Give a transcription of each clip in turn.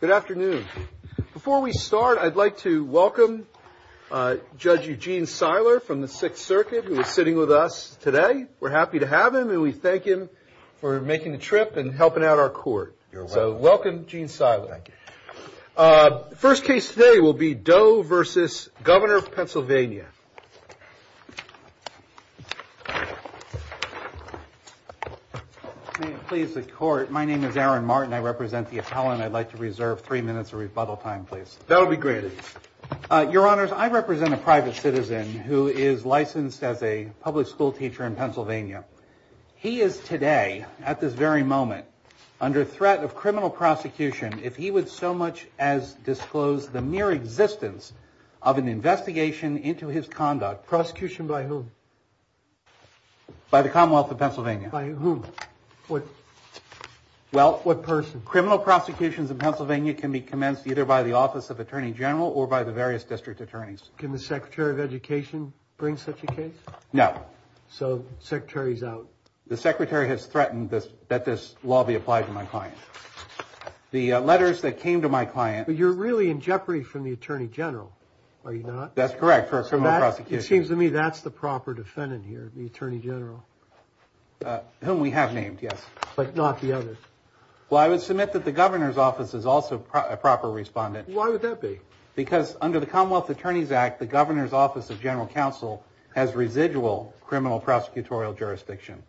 Good afternoon. Before we start, I'd like to welcome Judge Eugene Seiler from the Sixth Circuit who is sitting with us today. We're happy to have him and we thank him for making the trip and helping out our court. So welcome, Gene Seiler. Thank you. First case today will be Doe v. Governor of Pennsylvania. May it please the court, my name is Aaron Martin. I represent the appellant. I'd like to reserve three minutes of rebuttal time, please. That'll be granted. Your Honors, I represent a private citizen who is licensed as a public school teacher in Pennsylvania. He is today, at this very moment, under threat of criminal prosecution if he would so much as disclose the mere existence of an investigation into his conduct. Prosecution by whom? By the Commonwealth of Pennsylvania. By whom? What person? Criminal prosecutions in Pennsylvania can be commenced either by the Office of Attorney General or by the various district attorneys. Can the Secretary of Education bring such a case? No. So the Secretary's out. The Secretary has threatened that this law be applied to my client. The letters that came to my client... But you're really in jeopardy from the Attorney General, are you not? That's correct, for a criminal prosecution. It seems to me that's the proper defendant here, the Attorney General. Whom we have named, yes. But not the others. Well, I would submit that the Governor's Office is also a proper respondent. Why would that be? Because under the Commonwealth Attorneys Act, the Governor's Office of General Counsel has residual criminal prosecutorial jurisdiction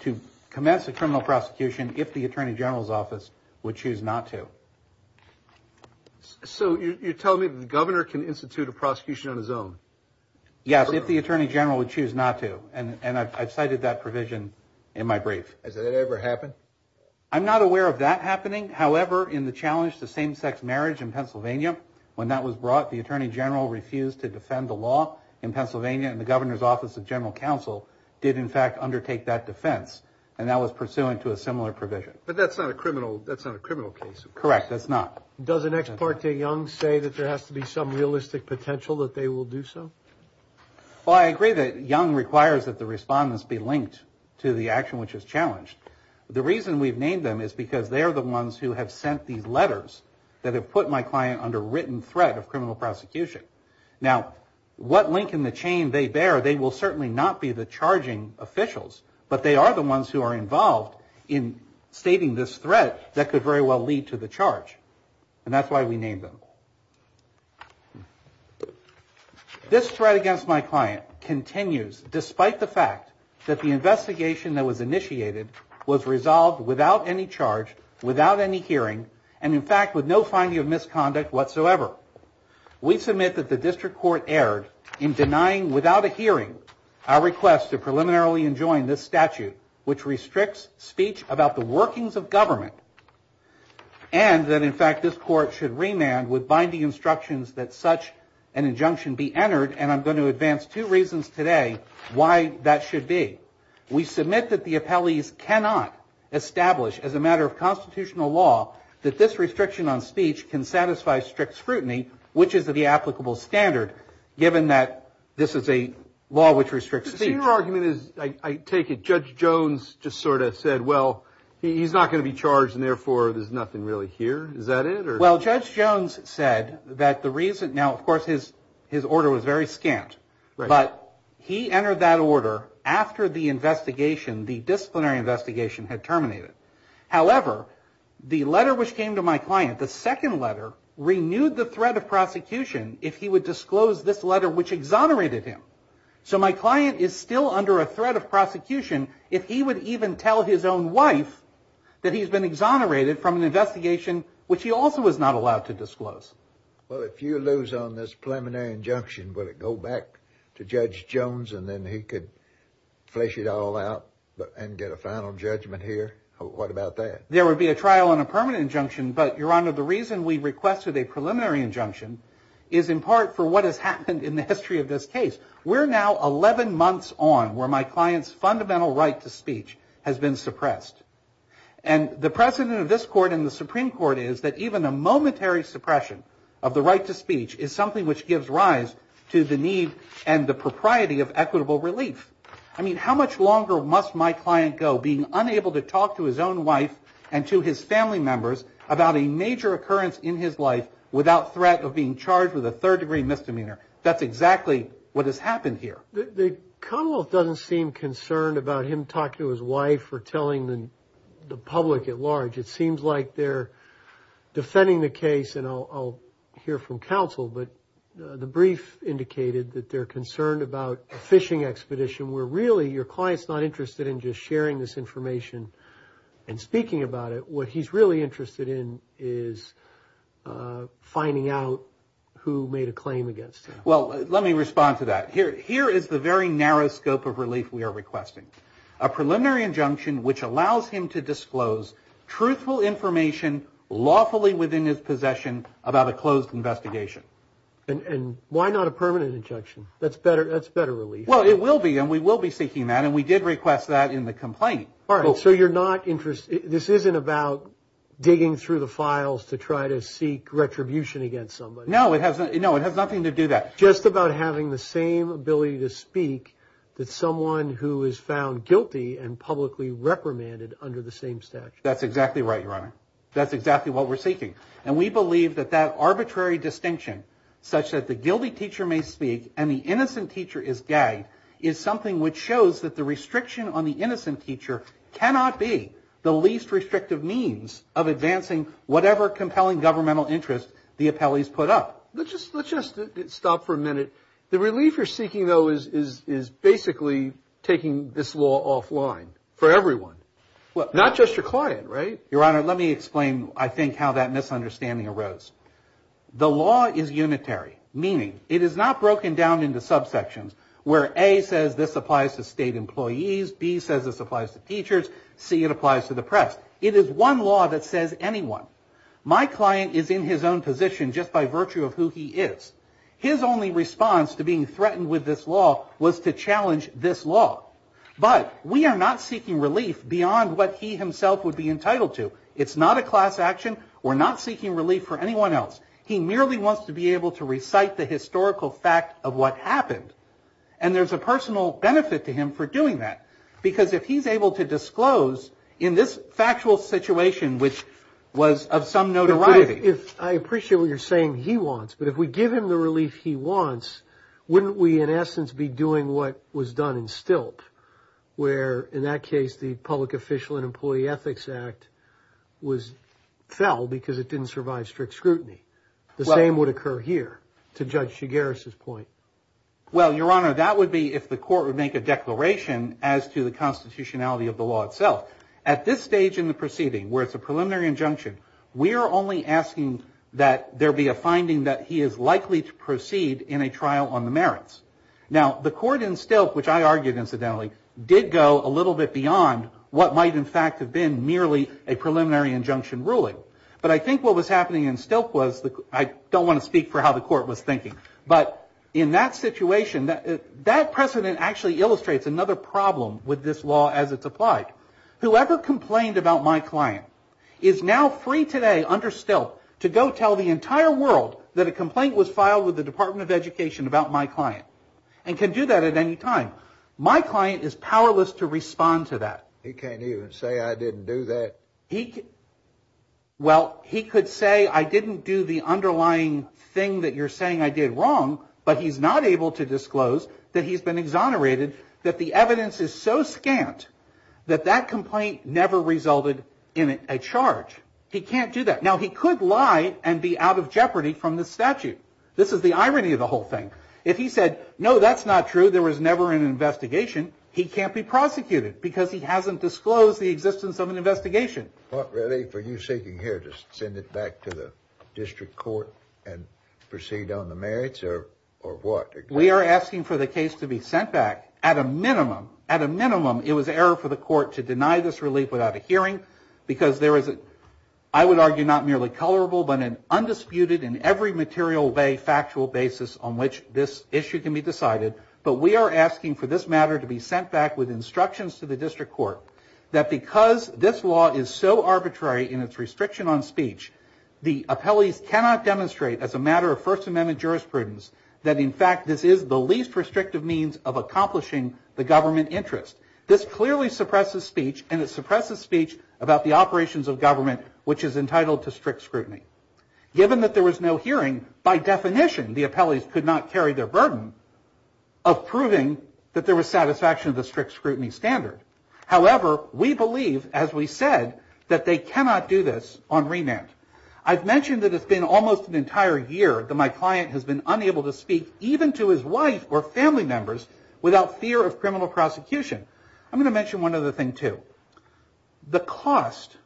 to commence a criminal prosecution if the Attorney General's Office would choose not to. So you're telling me that the Governor can institute a prosecution on his own? Yes, if the Attorney General would choose not to, and I've cited that provision in my brief. Has that ever happened? I'm not aware of that happening. However, in the challenge to same-sex marriage in Pennsylvania, when that was brought, the Attorney General refused to defend the law in Pennsylvania, and the Governor's Office of General Counsel did in fact undertake that defense, and that was pursuant to a similar provision. But that's not a criminal case. Correct, that's not. Does an ex parte Young say that there has to be some realistic potential that they will do so? Well, I agree that Young requires that the respondents be linked to the action which is challenged. The reason we've named them is because they're the ones who have sent these letters that have put my client under written threat of criminal prosecution. Now, what link in the chain they bear, they will certainly not be the charging officials, but they are the ones who are involved in stating this threat that could very well lead to the charge, and that's why we named them. This threat against my client continues despite the fact that the investigation that was initiated was resolved without any charge, without any hearing, and in fact with no finding of misconduct whatsoever. We submit that the District Court erred in denying without a hearing our request to preliminarily enjoin this statute, which restricts speech about the workings of government, and that in fact this court should remand with binding instructions that such an injunction be entered, and I'm going to advance two reasons today why that should be. We submit that the appellees cannot establish as a matter of constitutional law that this restriction on speech can satisfy strict scrutiny, which is the applicable standard, given that this is a law which restricts speech. Your argument is, I take it, Judge Jones just sort of said, well, he's not going to be charged, and therefore there's nothing really here. Is that it? Well, Judge Jones said that the reason, now of course his order was very scant, but he entered that order after the investigation, the disciplinary investigation had terminated. However, the letter which came to my client, the second letter, renewed the threat of prosecution if he would disclose this letter which exonerated him. So my client is still under a threat of prosecution if he would even tell his own wife that he's been exonerated from an investigation which he also was not allowed to disclose. Well, if you lose on this preliminary injunction, will it go back to Judge Jones and then he could flesh it all out and get a final judgment here? What about that? There would be a trial and a permanent injunction, but, Your Honor, the reason we requested a preliminary injunction is in part for what has happened in the history of this case. We're now 11 months on where my client's fundamental right to speech has been suppressed. And the precedent of this Court and the Supreme Court is that even a momentary suppression of the right to speech is something which gives rise to the need and the propriety of equitable relief. I mean, how much longer must my client go being unable to talk to his own wife and to his family members about a major occurrence in his life without threat of being charged with a third-degree misdemeanor? That's exactly what has happened here. The Commonwealth doesn't seem concerned about him talking to his wife or telling the public at large. It seems like they're defending the case, and I'll hear from counsel, but the brief indicated that they're concerned about a fishing expedition where really your client's not interested in just sharing this information and speaking about it. What he's really interested in is finding out who made a claim against him. Well, let me respond to that. Here is the very narrow scope of relief we are requesting, a preliminary injunction which allows him to disclose truthful information lawfully within his possession about a closed investigation. And why not a permanent injunction? That's better relief. Well, it will be, and we will be seeking that, and we did request that in the complaint. All right, so you're not interested. This isn't about digging through the files to try to seek retribution against somebody. No, it has nothing to do that. Just about having the same ability to speak that someone who is found guilty and publicly reprimanded under the same statute. That's exactly right, Your Honor. That's exactly what we're seeking. And we believe that that arbitrary distinction, such that the guilty teacher may speak and the innocent teacher is gagged, is something which shows that the restriction on the innocent teacher cannot be the least restrictive means of advancing whatever compelling governmental interest the appellees put up. Let's just stop for a minute. The relief you're seeking, though, is basically taking this law offline for everyone, not just your client, right? Your Honor, let me explain, I think, how that misunderstanding arose. The law is unitary, meaning it is not broken down into subsections where A says this applies to state employees, B says this applies to teachers, C it applies to the press. It is one law that says anyone. My client is in his own position just by virtue of who he is. His only response to being threatened with this law was to challenge this law. But we are not seeking relief beyond what he himself would be entitled to. It's not a class action. We're not seeking relief for anyone else. He merely wants to be able to recite the historical fact of what happened. And there's a personal benefit to him for doing that, because if he's able to disclose in this factual situation, which was of some notoriety. I appreciate what you're saying he wants, but if we give him the relief he wants, wouldn't we in essence be doing what was done in Stilp, where in that case the Public Official and Employee Ethics Act fell because it didn't survive strict scrutiny? The same would occur here, to Judge Shigaris's point. Well, Your Honor, that would be if the court would make a declaration as to the constitutionality of the law itself. At this stage in the proceeding, where it's a preliminary injunction, we are only asking that there be a finding that he is likely to proceed in a trial on the merits. Now, the court in Stilp, which I argued incidentally, did go a little bit beyond what might in fact have been merely a preliminary injunction ruling. But I think what was happening in Stilp was, I don't want to speak for how the court was thinking, but in that situation, that precedent actually illustrates another problem with this law as it's applied. Whoever complained about my client is now free today under Stilp to go tell the entire world that a complaint was filed with the Department of Education about my client and can do that at any time. My client is powerless to respond to that. He can't even say I didn't do that? Well, he could say I didn't do the underlying thing that you're saying I did wrong, but he's not able to disclose that he's been exonerated, that the evidence is so scant that that complaint never resulted in a charge. He can't do that. Now, he could lie and be out of jeopardy from this statute. This is the irony of the whole thing. If he said, no, that's not true, there was never an investigation, he can't be prosecuted because he hasn't disclosed the existence of an investigation. What, really, were you seeking here to send it back to the district court and proceed on the merits or what? We are asking for the case to be sent back. At a minimum, at a minimum, it was error for the court to deny this relief without a hearing because there is, I would argue, not merely colorable, but an undisputed and every material way factual basis on which this issue can be decided. But we are asking for this matter to be sent back with instructions to the district court that because this law is so arbitrary in its restriction on speech, the appellees cannot demonstrate as a matter of First Amendment jurisprudence that, in fact, this is the least restrictive means of accomplishing the government interest. This clearly suppresses speech and it suppresses speech about the operations of government, which is entitled to strict scrutiny. Given that there was no hearing, by definition, the appellees could not carry their burden of proving that there was satisfaction of the strict scrutiny standard. However, we believe, as we said, that they cannot do this on remand. I've mentioned that it's been almost an entire year that my client has been unable to speak, even to his wife or family members, without fear of criminal prosecution. I'm going to mention one other thing, too. The cost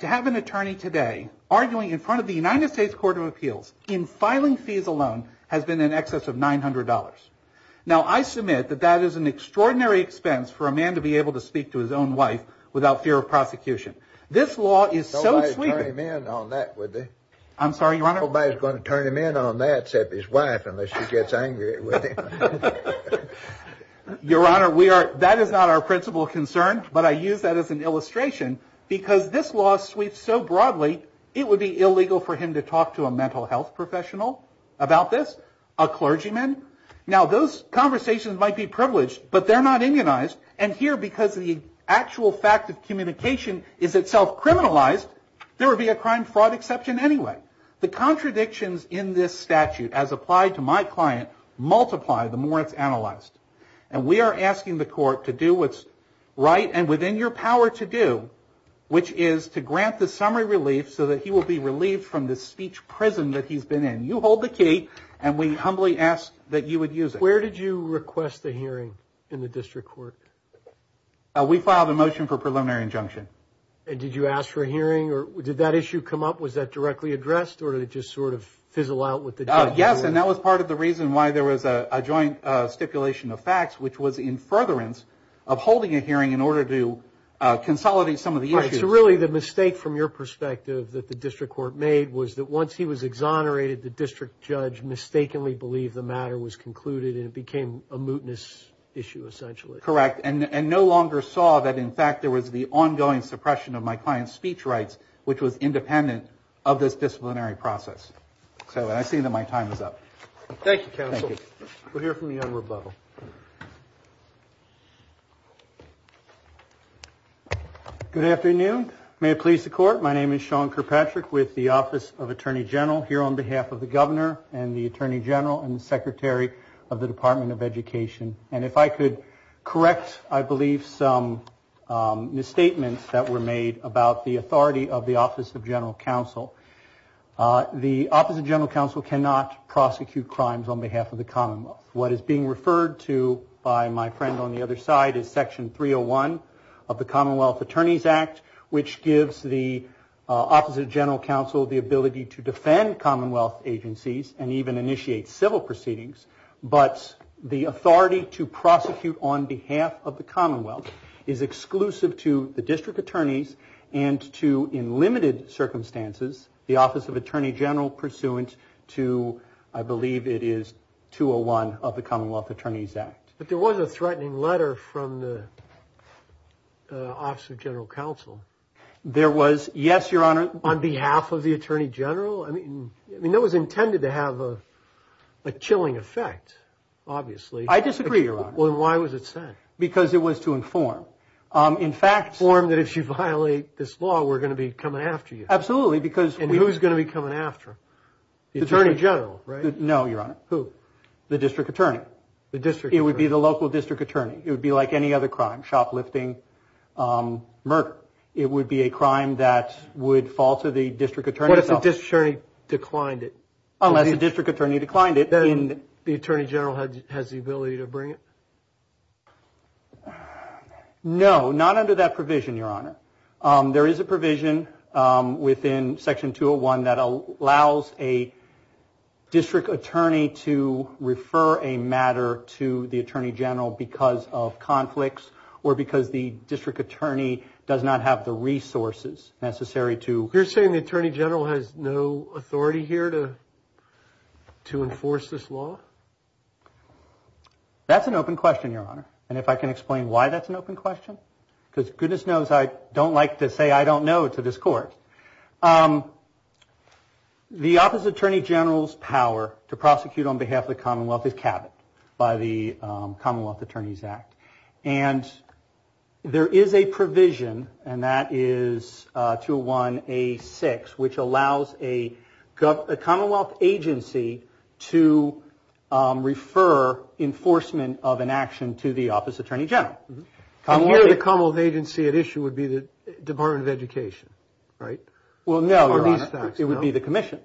to have an attorney today arguing in front of the United States Court of Appeals in filing fees alone has been in excess of $900. Now, I submit that that is an extraordinary expense for a man to be able to speak to his own wife without fear of prosecution. This law is so sweeping. I'm sorry, Your Honor? She gets angry at me. Your Honor, that is not our principal concern, but I use that as an illustration because this law sweeps so broadly, it would be illegal for him to talk to a mental health professional about this, a clergyman. Now, those conversations might be privileged, but they're not immunized. And here, because the actual fact of communication is itself criminalized, there would be a crime fraud exception anyway. The contradictions in this statute, as applied to my client, multiply the more it's analyzed. And we are asking the court to do what's right and within your power to do, which is to grant the summary relief so that he will be relieved from this speech prison that he's been in. You hold the key, and we humbly ask that you would use it. Where did you request the hearing in the district court? We filed a motion for preliminary injunction. And did you ask for a hearing, or did that issue come up? Was that directly addressed, or did it just sort of fizzle out with the judge? Yes, and that was part of the reason why there was a joint stipulation of facts, which was in furtherance of holding a hearing in order to consolidate some of the issues. Right, so really the mistake from your perspective that the district court made was that once he was exonerated, the district judge mistakenly believed the matter was concluded, and it became a mootness issue, essentially. Correct, and no longer saw that, in fact, there was the ongoing suppression of my client's speech rights, which was independent of this disciplinary process. So I see that my time is up. Thank you, counsel. Thank you. We'll hear from you on rebuttal. Good afternoon. May it please the court, my name is Sean Kirkpatrick with the Office of Attorney General, here on behalf of the governor and the attorney general and the secretary of the Department of Education. And if I could correct, I believe, some misstatements that were made about the authority of the Office of General Counsel. The Office of General Counsel cannot prosecute crimes on behalf of the Commonwealth. What is being referred to by my friend on the other side is Section 301 of the Commonwealth Attorneys Act, which gives the Office of General Counsel the ability to defend Commonwealth agencies and even initiate civil proceedings. But the authority to prosecute on behalf of the Commonwealth is exclusive to the district attorneys and to, in limited circumstances, the Office of Attorney General pursuant to, I believe it is, 201 of the Commonwealth Attorneys Act. But there was a threatening letter from the Office of General Counsel. There was, yes, your honor. On behalf of the attorney general? I mean, that was intended to have a chilling effect, obviously. I disagree, your honor. Well, then why was it sent? Because it was to inform. In fact. Inform that if you violate this law, we're going to be coming after you. Absolutely, because. And who's going to be coming after him? The attorney general, right? No, your honor. Who? The district attorney. The district attorney. It would be the local district attorney. It would be like any other crime, shoplifting, murder. It would be a crime that would fall to the district attorney. What if the district attorney declined it? Unless the district attorney declined it. Then the attorney general has the ability to bring it? No, not under that provision, your honor. There is a provision within Section 201 that allows a district attorney to refer a matter to the attorney general because of conflicts or because the district attorney does not have the resources necessary to. You're saying the attorney general has no authority here to. To enforce this law. That's an open question, your honor. And if I can explain why that's an open question, because goodness knows I don't like to say I don't know to this court. The opposite attorney general's power to prosecute on behalf of the Commonwealth is capped by the Commonwealth Attorneys Act. And there is a provision, and that is 201A6, which allows a Commonwealth agency to refer enforcement of an action to the opposite attorney general. And here the Commonwealth agency at issue would be the Department of Education, right? Well, no, your honor. It would be the commission.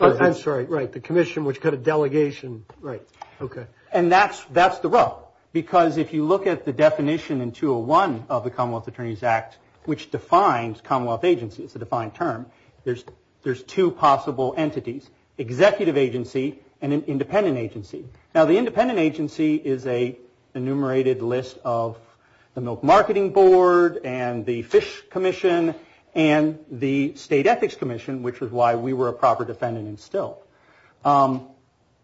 I'm sorry, right, the commission which cut a delegation. Right. Okay. And that's the rub. Because if you look at the definition in 201 of the Commonwealth Attorneys Act, which defines Commonwealth agency, it's a defined term, there's two possible entities. Executive agency and an independent agency. Now, the independent agency is an enumerated list of the Milk Marketing Board and the Fish Commission and the State Ethics Commission, which is why we were a proper defendant in Stilt.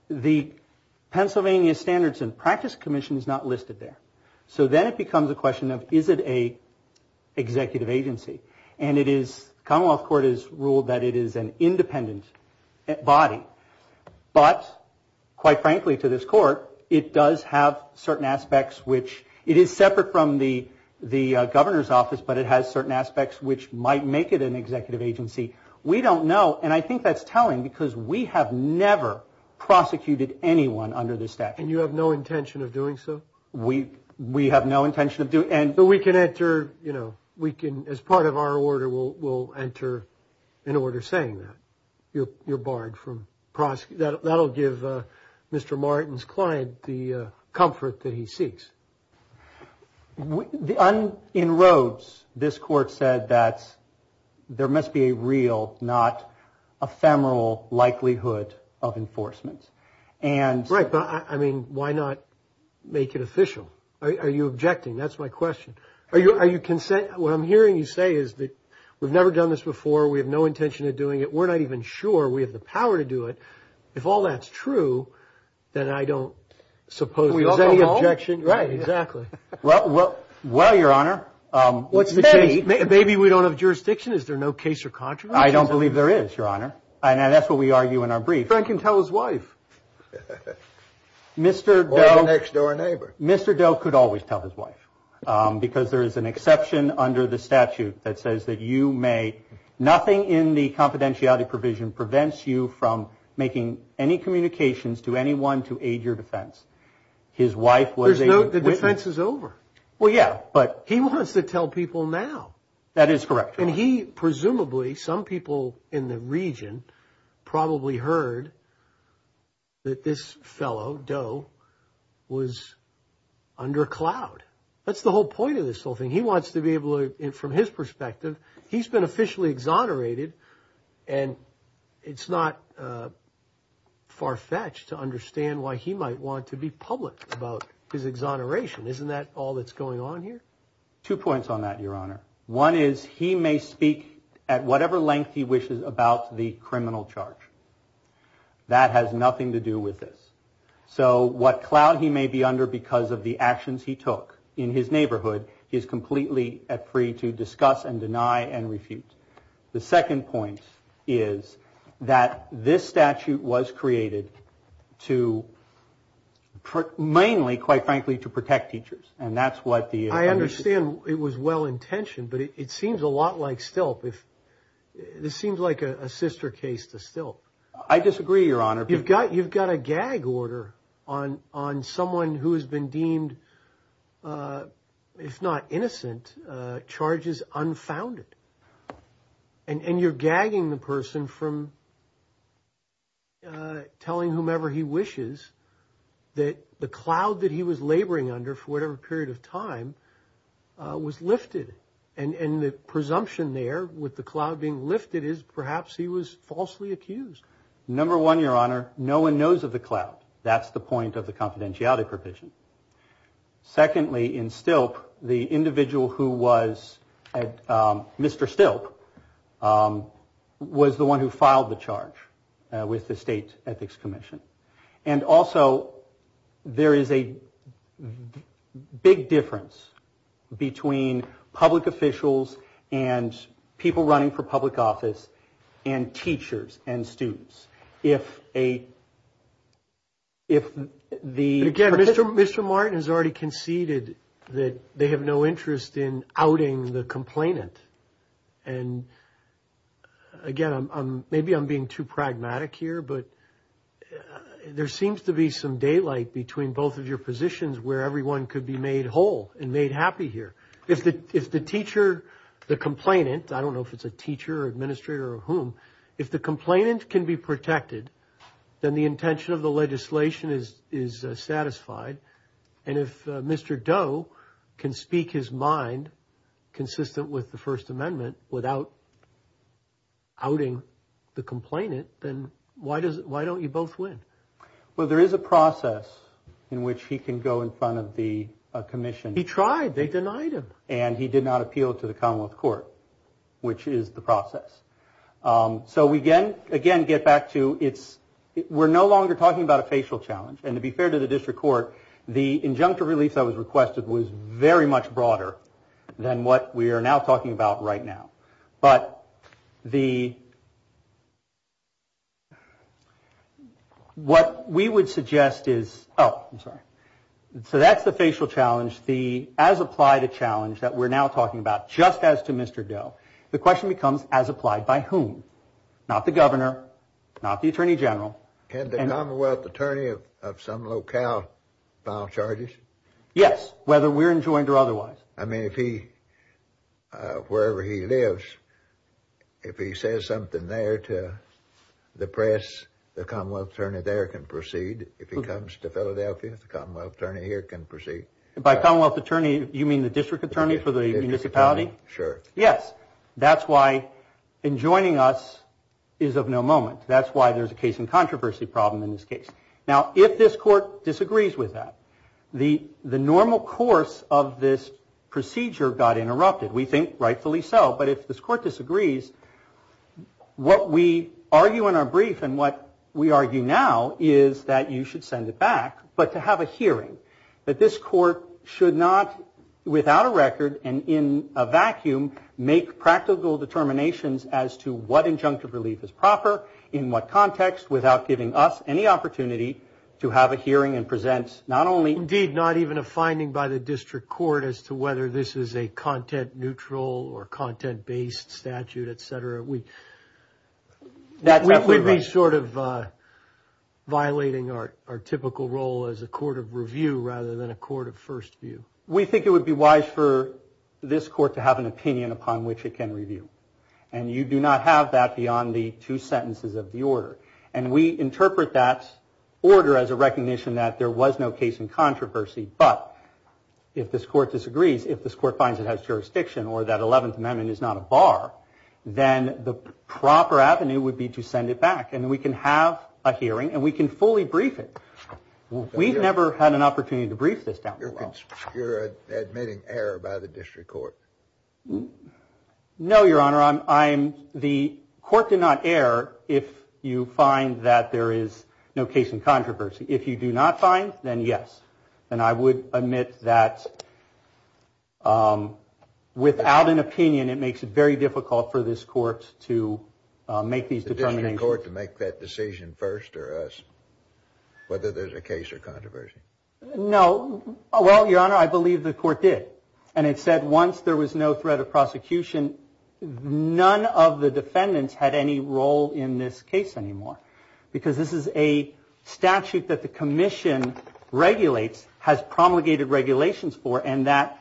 The Pennsylvania Standards and Practice Commission is not listed there. So then it becomes a question of is it an executive agency? And it is, the Commonwealth Court has ruled that it is an independent body. But, quite frankly to this court, it does have certain aspects which, it is separate from the governor's office, but it has certain aspects which might make it an executive agency. We don't know. And I think that's telling because we have never prosecuted anyone under this statute. And you have no intention of doing so? We have no intention of doing. But we can enter, you know, we can, as part of our order, we'll enter an order saying that. You're barred from prosecuting. That will give Mr. Martin's client the comfort that he seeks. In Rhodes, this court said that there must be a real, not ephemeral likelihood of enforcement. Right, but I mean, why not make it official? Are you objecting? That's my question. What I'm hearing you say is that we've never done this before. We have no intention of doing it. We're not even sure we have the power to do it. If all that's true, then I don't suppose there's any objection. Right, exactly. Well, Your Honor. Maybe we don't have jurisdiction. Is there no case or contradiction? I don't believe there is, Your Honor. And that's what we argue in our brief. Frank can tell his wife. Or the next door neighbor. Mr. Doe could always tell his wife because there is an exception under the statute that says that you may, nothing in the confidentiality provision prevents you from making any communications to anyone to aid your defense. His wife was able to witness. The defense is over. Well, yeah, but. He wants to tell people now. That is correct, Your Honor. And he, presumably, some people in the region probably heard that this fellow, Doe, was under cloud. That's the whole point of this whole thing. He wants to be able to, from his perspective, he's been officially exonerated, and it's not far-fetched to understand why he might want to be public about his exoneration. Isn't that all that's going on here? Two points on that, Your Honor. One is he may speak at whatever length he wishes about the criminal charge. That has nothing to do with this. So what cloud he may be under because of the actions he took in his neighborhood, he is completely free to discuss and deny and refute. The second point is that this statute was created to, mainly, quite frankly, to protect teachers. And that's what the. I understand it was well-intentioned, but it seems a lot like Stilp. This seems like a sister case to Stilp. I disagree, Your Honor. You've got a gag order on someone who has been deemed, if not innocent, charges unfounded. And you're gagging the person from telling whomever he wishes that the cloud that he was laboring under for whatever period of time was lifted. And the presumption there with the cloud being lifted is perhaps he was falsely accused. Number one, Your Honor, no one knows of the cloud. That's the point of the confidentiality provision. Secondly, in Stilp, the individual who was Mr. Stilp was the one who filed the charge with the state ethics commission. And also, there is a big difference between public officials and people running for public office and teachers and students. If a, if the. Again, Mr. Martin has already conceded that they have no interest in outing the complainant. And again, maybe I'm being too pragmatic here, but there seems to be some daylight between both of your positions where everyone could be made whole and made happy here. If the teacher, the complainant, I don't know if it's a teacher or administrator or whom, if the complainant can be protected, then the intention of the legislation is satisfied. And if Mr. Doe can speak his mind consistent with the First Amendment without outing the complainant, then why does it why don't you both win? Well, there is a process in which he can go in front of the commission. He tried. They denied him. And he did not appeal to the Commonwealth Court, which is the process. So we can again get back to it's we're no longer talking about a facial challenge. And to be fair to the district court, the injunctive relief that was requested was very much broader than what we are now talking about right now. But the. What we would suggest is. Oh, I'm sorry. So that's the facial challenge. The as applied a challenge that we're now talking about, just as to Mr. Doe. The question becomes, as applied by whom? Not the governor, not the attorney general. And the Commonwealth attorney of some locale file charges. Yes. Whether we're enjoined or otherwise. I mean, if he wherever he lives, if he says something there to the press, the Commonwealth attorney there can proceed. If he comes to Philadelphia, the Commonwealth attorney here can proceed by Commonwealth attorney. You mean the district attorney for the municipality? Sure. Yes. That's why in joining us is of no moment. That's why there's a case in controversy problem in this case. Now, if this court disagrees with that, the the normal course of this procedure got interrupted. We think rightfully so. But if this court disagrees. What we argue in our brief and what we argue now is that you should send it back. But to have a hearing that this court should not, without a record and in a vacuum, make practical determinations as to what injunctive relief is proper in what context, without giving us any opportunity to have a hearing and present not only. Indeed, not even a finding by the district court as to whether this is a content, neutral or content based statute, etc. That would be sort of violating our typical role as a court of review rather than a court of first view. We think it would be wise for this court to have an opinion upon which it can review. And you do not have that beyond the two sentences of the order. And we interpret that order as a recognition that there was no case in controversy. But if this court disagrees, if this court finds it has jurisdiction or that 11th Amendment is not a bar, then the proper avenue would be to send it back and we can have a hearing and we can fully brief it. We've never had an opportunity to brief this down. You're admitting error by the district court. No, Your Honor, I'm the court did not err. If you find that there is no case in controversy. If you do not find, then yes. And I would admit that. Without an opinion, it makes it very difficult for this court to make these determining court to make that decision first or us. Whether there's a case or controversy. No. Well, Your Honor, I believe the court did. And it said once there was no threat of prosecution, none of the defendants had any role in this case anymore. Because this is a statute that the commission regulates, has promulgated regulations for, and that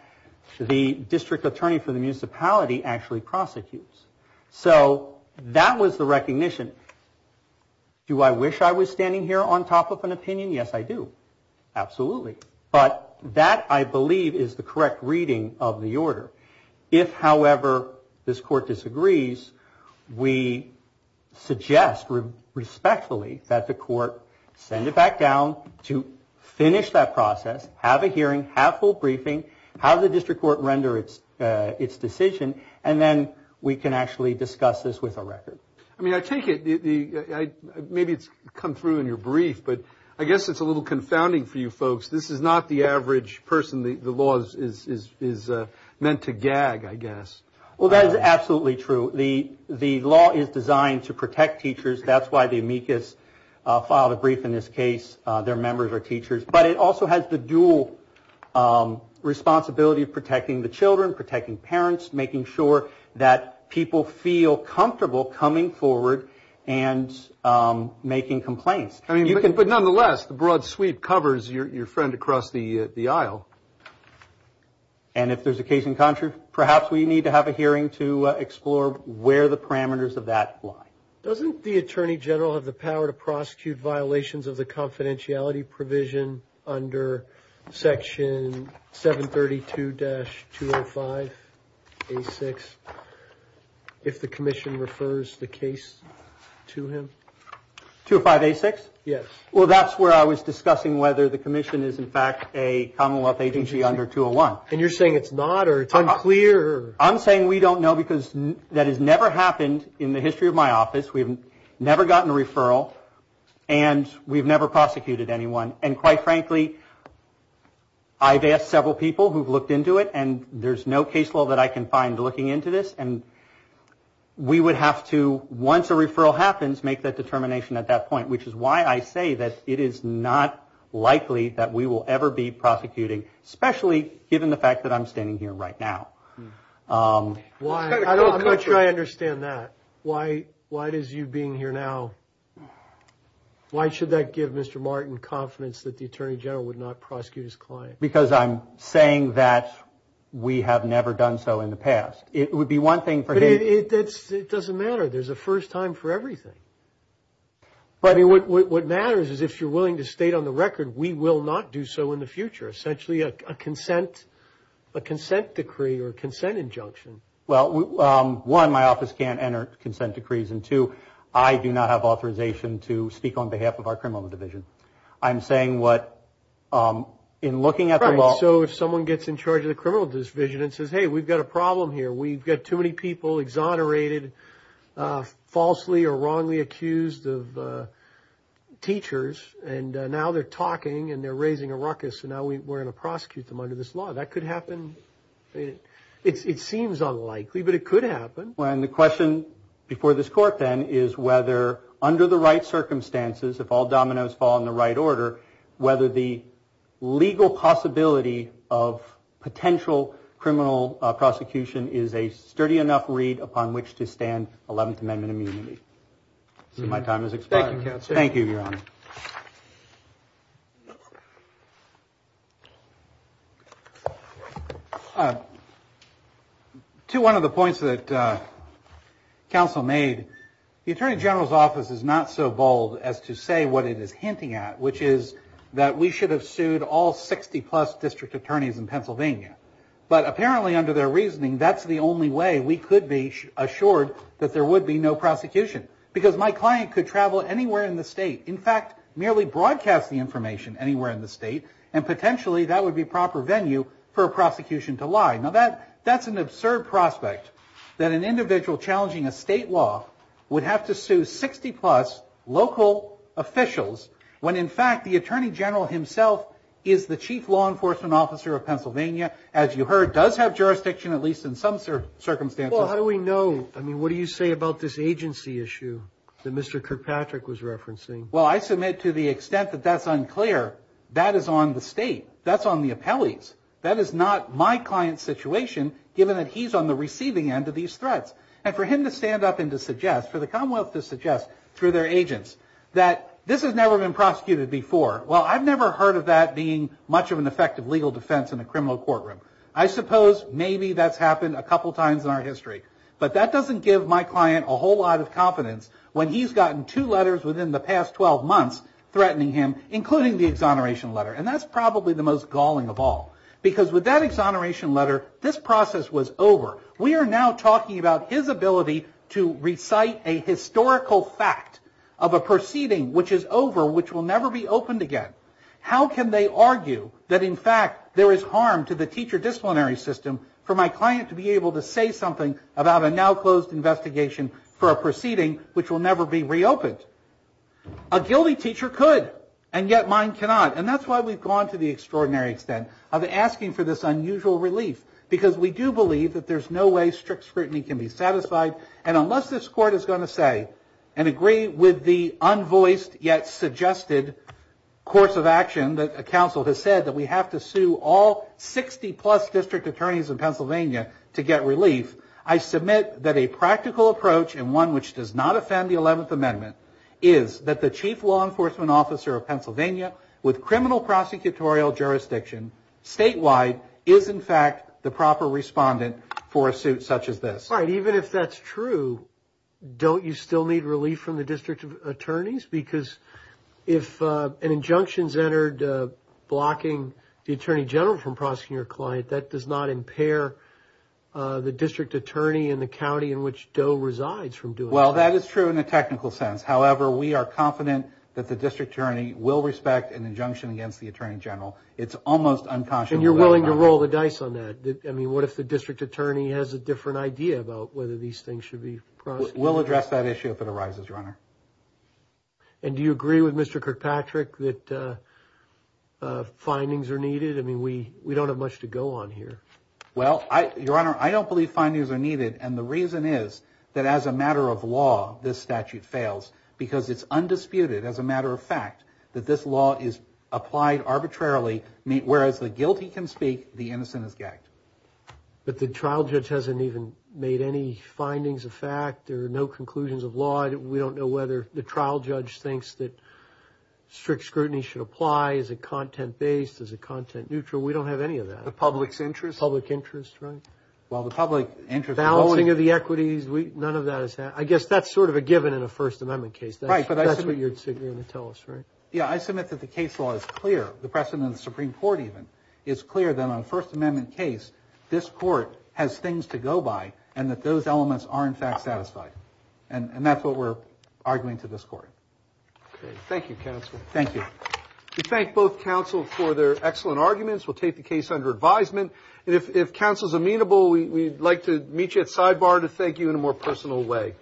the district attorney for the municipality actually prosecutes. So that was the recognition. Do I wish I was standing here on top of an opinion? Yes, I do. Absolutely. If, however, this court disagrees, we suggest respectfully that the court send it back down to finish that process, have a hearing, have full briefing, have the district court render its decision, and then we can actually discuss this with a record. I mean, I take it, maybe it's come through in your brief, but I guess it's a little confounding for you folks. This is not the average person the law is meant to gag, I guess. Well, that is absolutely true. The law is designed to protect teachers. That's why the amicus filed a brief in this case. Their members are teachers. But it also has the dual responsibility of protecting the children, protecting parents, making sure that people feel comfortable coming forward and making complaints. But nonetheless, the broad sweep covers your friend across the aisle. And if there's a case in contra, perhaps we need to have a hearing to explore where the parameters of that lie. Doesn't the attorney general have the power to prosecute violations of the confidentiality provision under Section 732-205A6 if the commission refers the case to him? 205A6? Yes. Well, that's where I was discussing whether the commission is in fact a Commonwealth agency under 201. And you're saying it's not, or it's unclear? I'm saying we don't know because that has never happened in the history of my office. We've never gotten a referral, and we've never prosecuted anyone. And quite frankly, I've asked several people who've looked into it, and there's no case law that I can find looking into this. And we would have to, once a referral happens, make that determination at that point, which is why I say that it is not likely that we will ever be prosecuting, especially given the fact that I'm standing here right now. I'm not sure I understand that. Why does you being here now, why should that give Mr. Martin confidence that the attorney general would not prosecute his client? Because I'm saying that we have never done so in the past. It would be one thing for him. But it doesn't matter. There's a first time for everything. What matters is if you're willing to state on the record we will not do so in the future, essentially a consent decree or a consent injunction. Well, one, my office can't enter consent decrees, and two, I do not have authorization to speak on behalf of our criminal division. I'm saying what in looking at the law. So if someone gets in charge of the criminal division and says, hey, we've got a problem here, we've got too many people exonerated, falsely or wrongly accused of teachers, and now they're talking and they're raising a ruckus, and now we're going to prosecute them under this law. That could happen. It seems unlikely, but it could happen. And the question before this court, then, is whether under the right circumstances, if all dominoes fall in the right order, whether the legal possibility of potential criminal prosecution is a sturdy enough read upon which to stand 11th Amendment immunity. So my time has expired. Thank you, Counsel. Thank you, Your Honor. To one of the points that Counsel made, the Attorney General's office is not so bold as to say what it is hinting at, which is that we should have sued all 60-plus district attorneys in Pennsylvania. But apparently under their reasoning, that's the only way we could be assured that there would be no prosecution, because my client could travel anywhere in the state, in fact, merely broadcast the information anywhere in the state, and potentially that would be proper venue for a prosecution to lie. Now, that's an absurd prospect, that an individual challenging a state law would have to sue 60-plus local officials, when, in fact, the Attorney General himself is the Chief Law Enforcement Officer of Pennsylvania, as you heard, does have jurisdiction, at least in some circumstances. Well, how do we know? I mean, what do you say about this agency issue that Mr. Kirkpatrick was referencing? Well, I submit to the extent that that's unclear, that is on the state. That's on the appellees. That is not my client's situation, given that he's on the receiving end of these threats. And for him to stand up and to suggest, for the Commonwealth to suggest, through their agents, that this has never been prosecuted before, well, I've never heard of that being much of an effective legal defense in a criminal courtroom. I suppose maybe that's happened a couple times in our history, but that doesn't give my client a whole lot of confidence when he's gotten two letters within the past 12 months threatening him, including the exoneration letter. And that's probably the most galling of all, because with that exoneration letter, this process was over. We are now talking about his ability to recite a historical fact of a proceeding, which is over, which will never be opened again. How can they argue that, in fact, there is harm to the teacher disciplinary system for my client to be able to say something about a now-closed investigation for a proceeding which will never be reopened? A guilty teacher could, and yet mine cannot. And that's why we've gone to the extraordinary extent of asking for this unusual relief, because we do believe that there's no way strict scrutiny can be satisfied. And unless this Court is going to say and agree with the unvoiced yet suggested course of action that a counsel has said, that we have to sue all 60-plus district attorneys in Pennsylvania to get relief, I submit that a practical approach, and one which does not offend the 11th Amendment, is that the chief law enforcement officer of Pennsylvania, with criminal prosecutorial jurisdiction statewide, is in fact the proper respondent for a suit such as this. Right. Even if that's true, don't you still need relief from the district attorneys? Because if an injunction is entered blocking the attorney general from prosecuting your client, that does not impair the district attorney in the county in which Doe resides from doing that. Well, that is true in a technical sense. However, we are confident that the district attorney will respect an injunction against the attorney general. It's almost unconscionable. And you're willing to roll the dice on that? I mean, what if the district attorney has a different idea about whether these things should be prosecuted? We'll address that issue if it arises, Your Honor. And do you agree with Mr. Kirkpatrick that findings are needed? I mean, we don't have much to go on here. Well, Your Honor, I don't believe findings are needed, and the reason is that as a matter of law, this statute fails, because it's undisputed as a matter of fact that this law is applied arbitrarily, whereas the guilty can speak, the innocent is gagged. But the trial judge hasn't even made any findings of fact. There are no conclusions of law. We don't know whether the trial judge thinks that strict scrutiny should apply. Is it content-based? Is it content-neutral? We don't have any of that. The public's interest? Public interest, right. Well, the public interest. Valuing of the equities, none of that has happened. I guess that's sort of a given in a First Amendment case. Right, but I submit. That's what you're going to tell us, right? Yeah, I submit that the case law is clear, the precedent of the Supreme Court even, is clear that on a First Amendment case, this court has things to go by, and that those elements are, in fact, satisfied. And that's what we're arguing to this court. Okay. Thank you, counsel. Thank you. We thank both counsels for their excellent arguments. We'll take the case under advisement. And if counsel's amenable, we'd like to meet you at sidebar to thank you in a more personal way.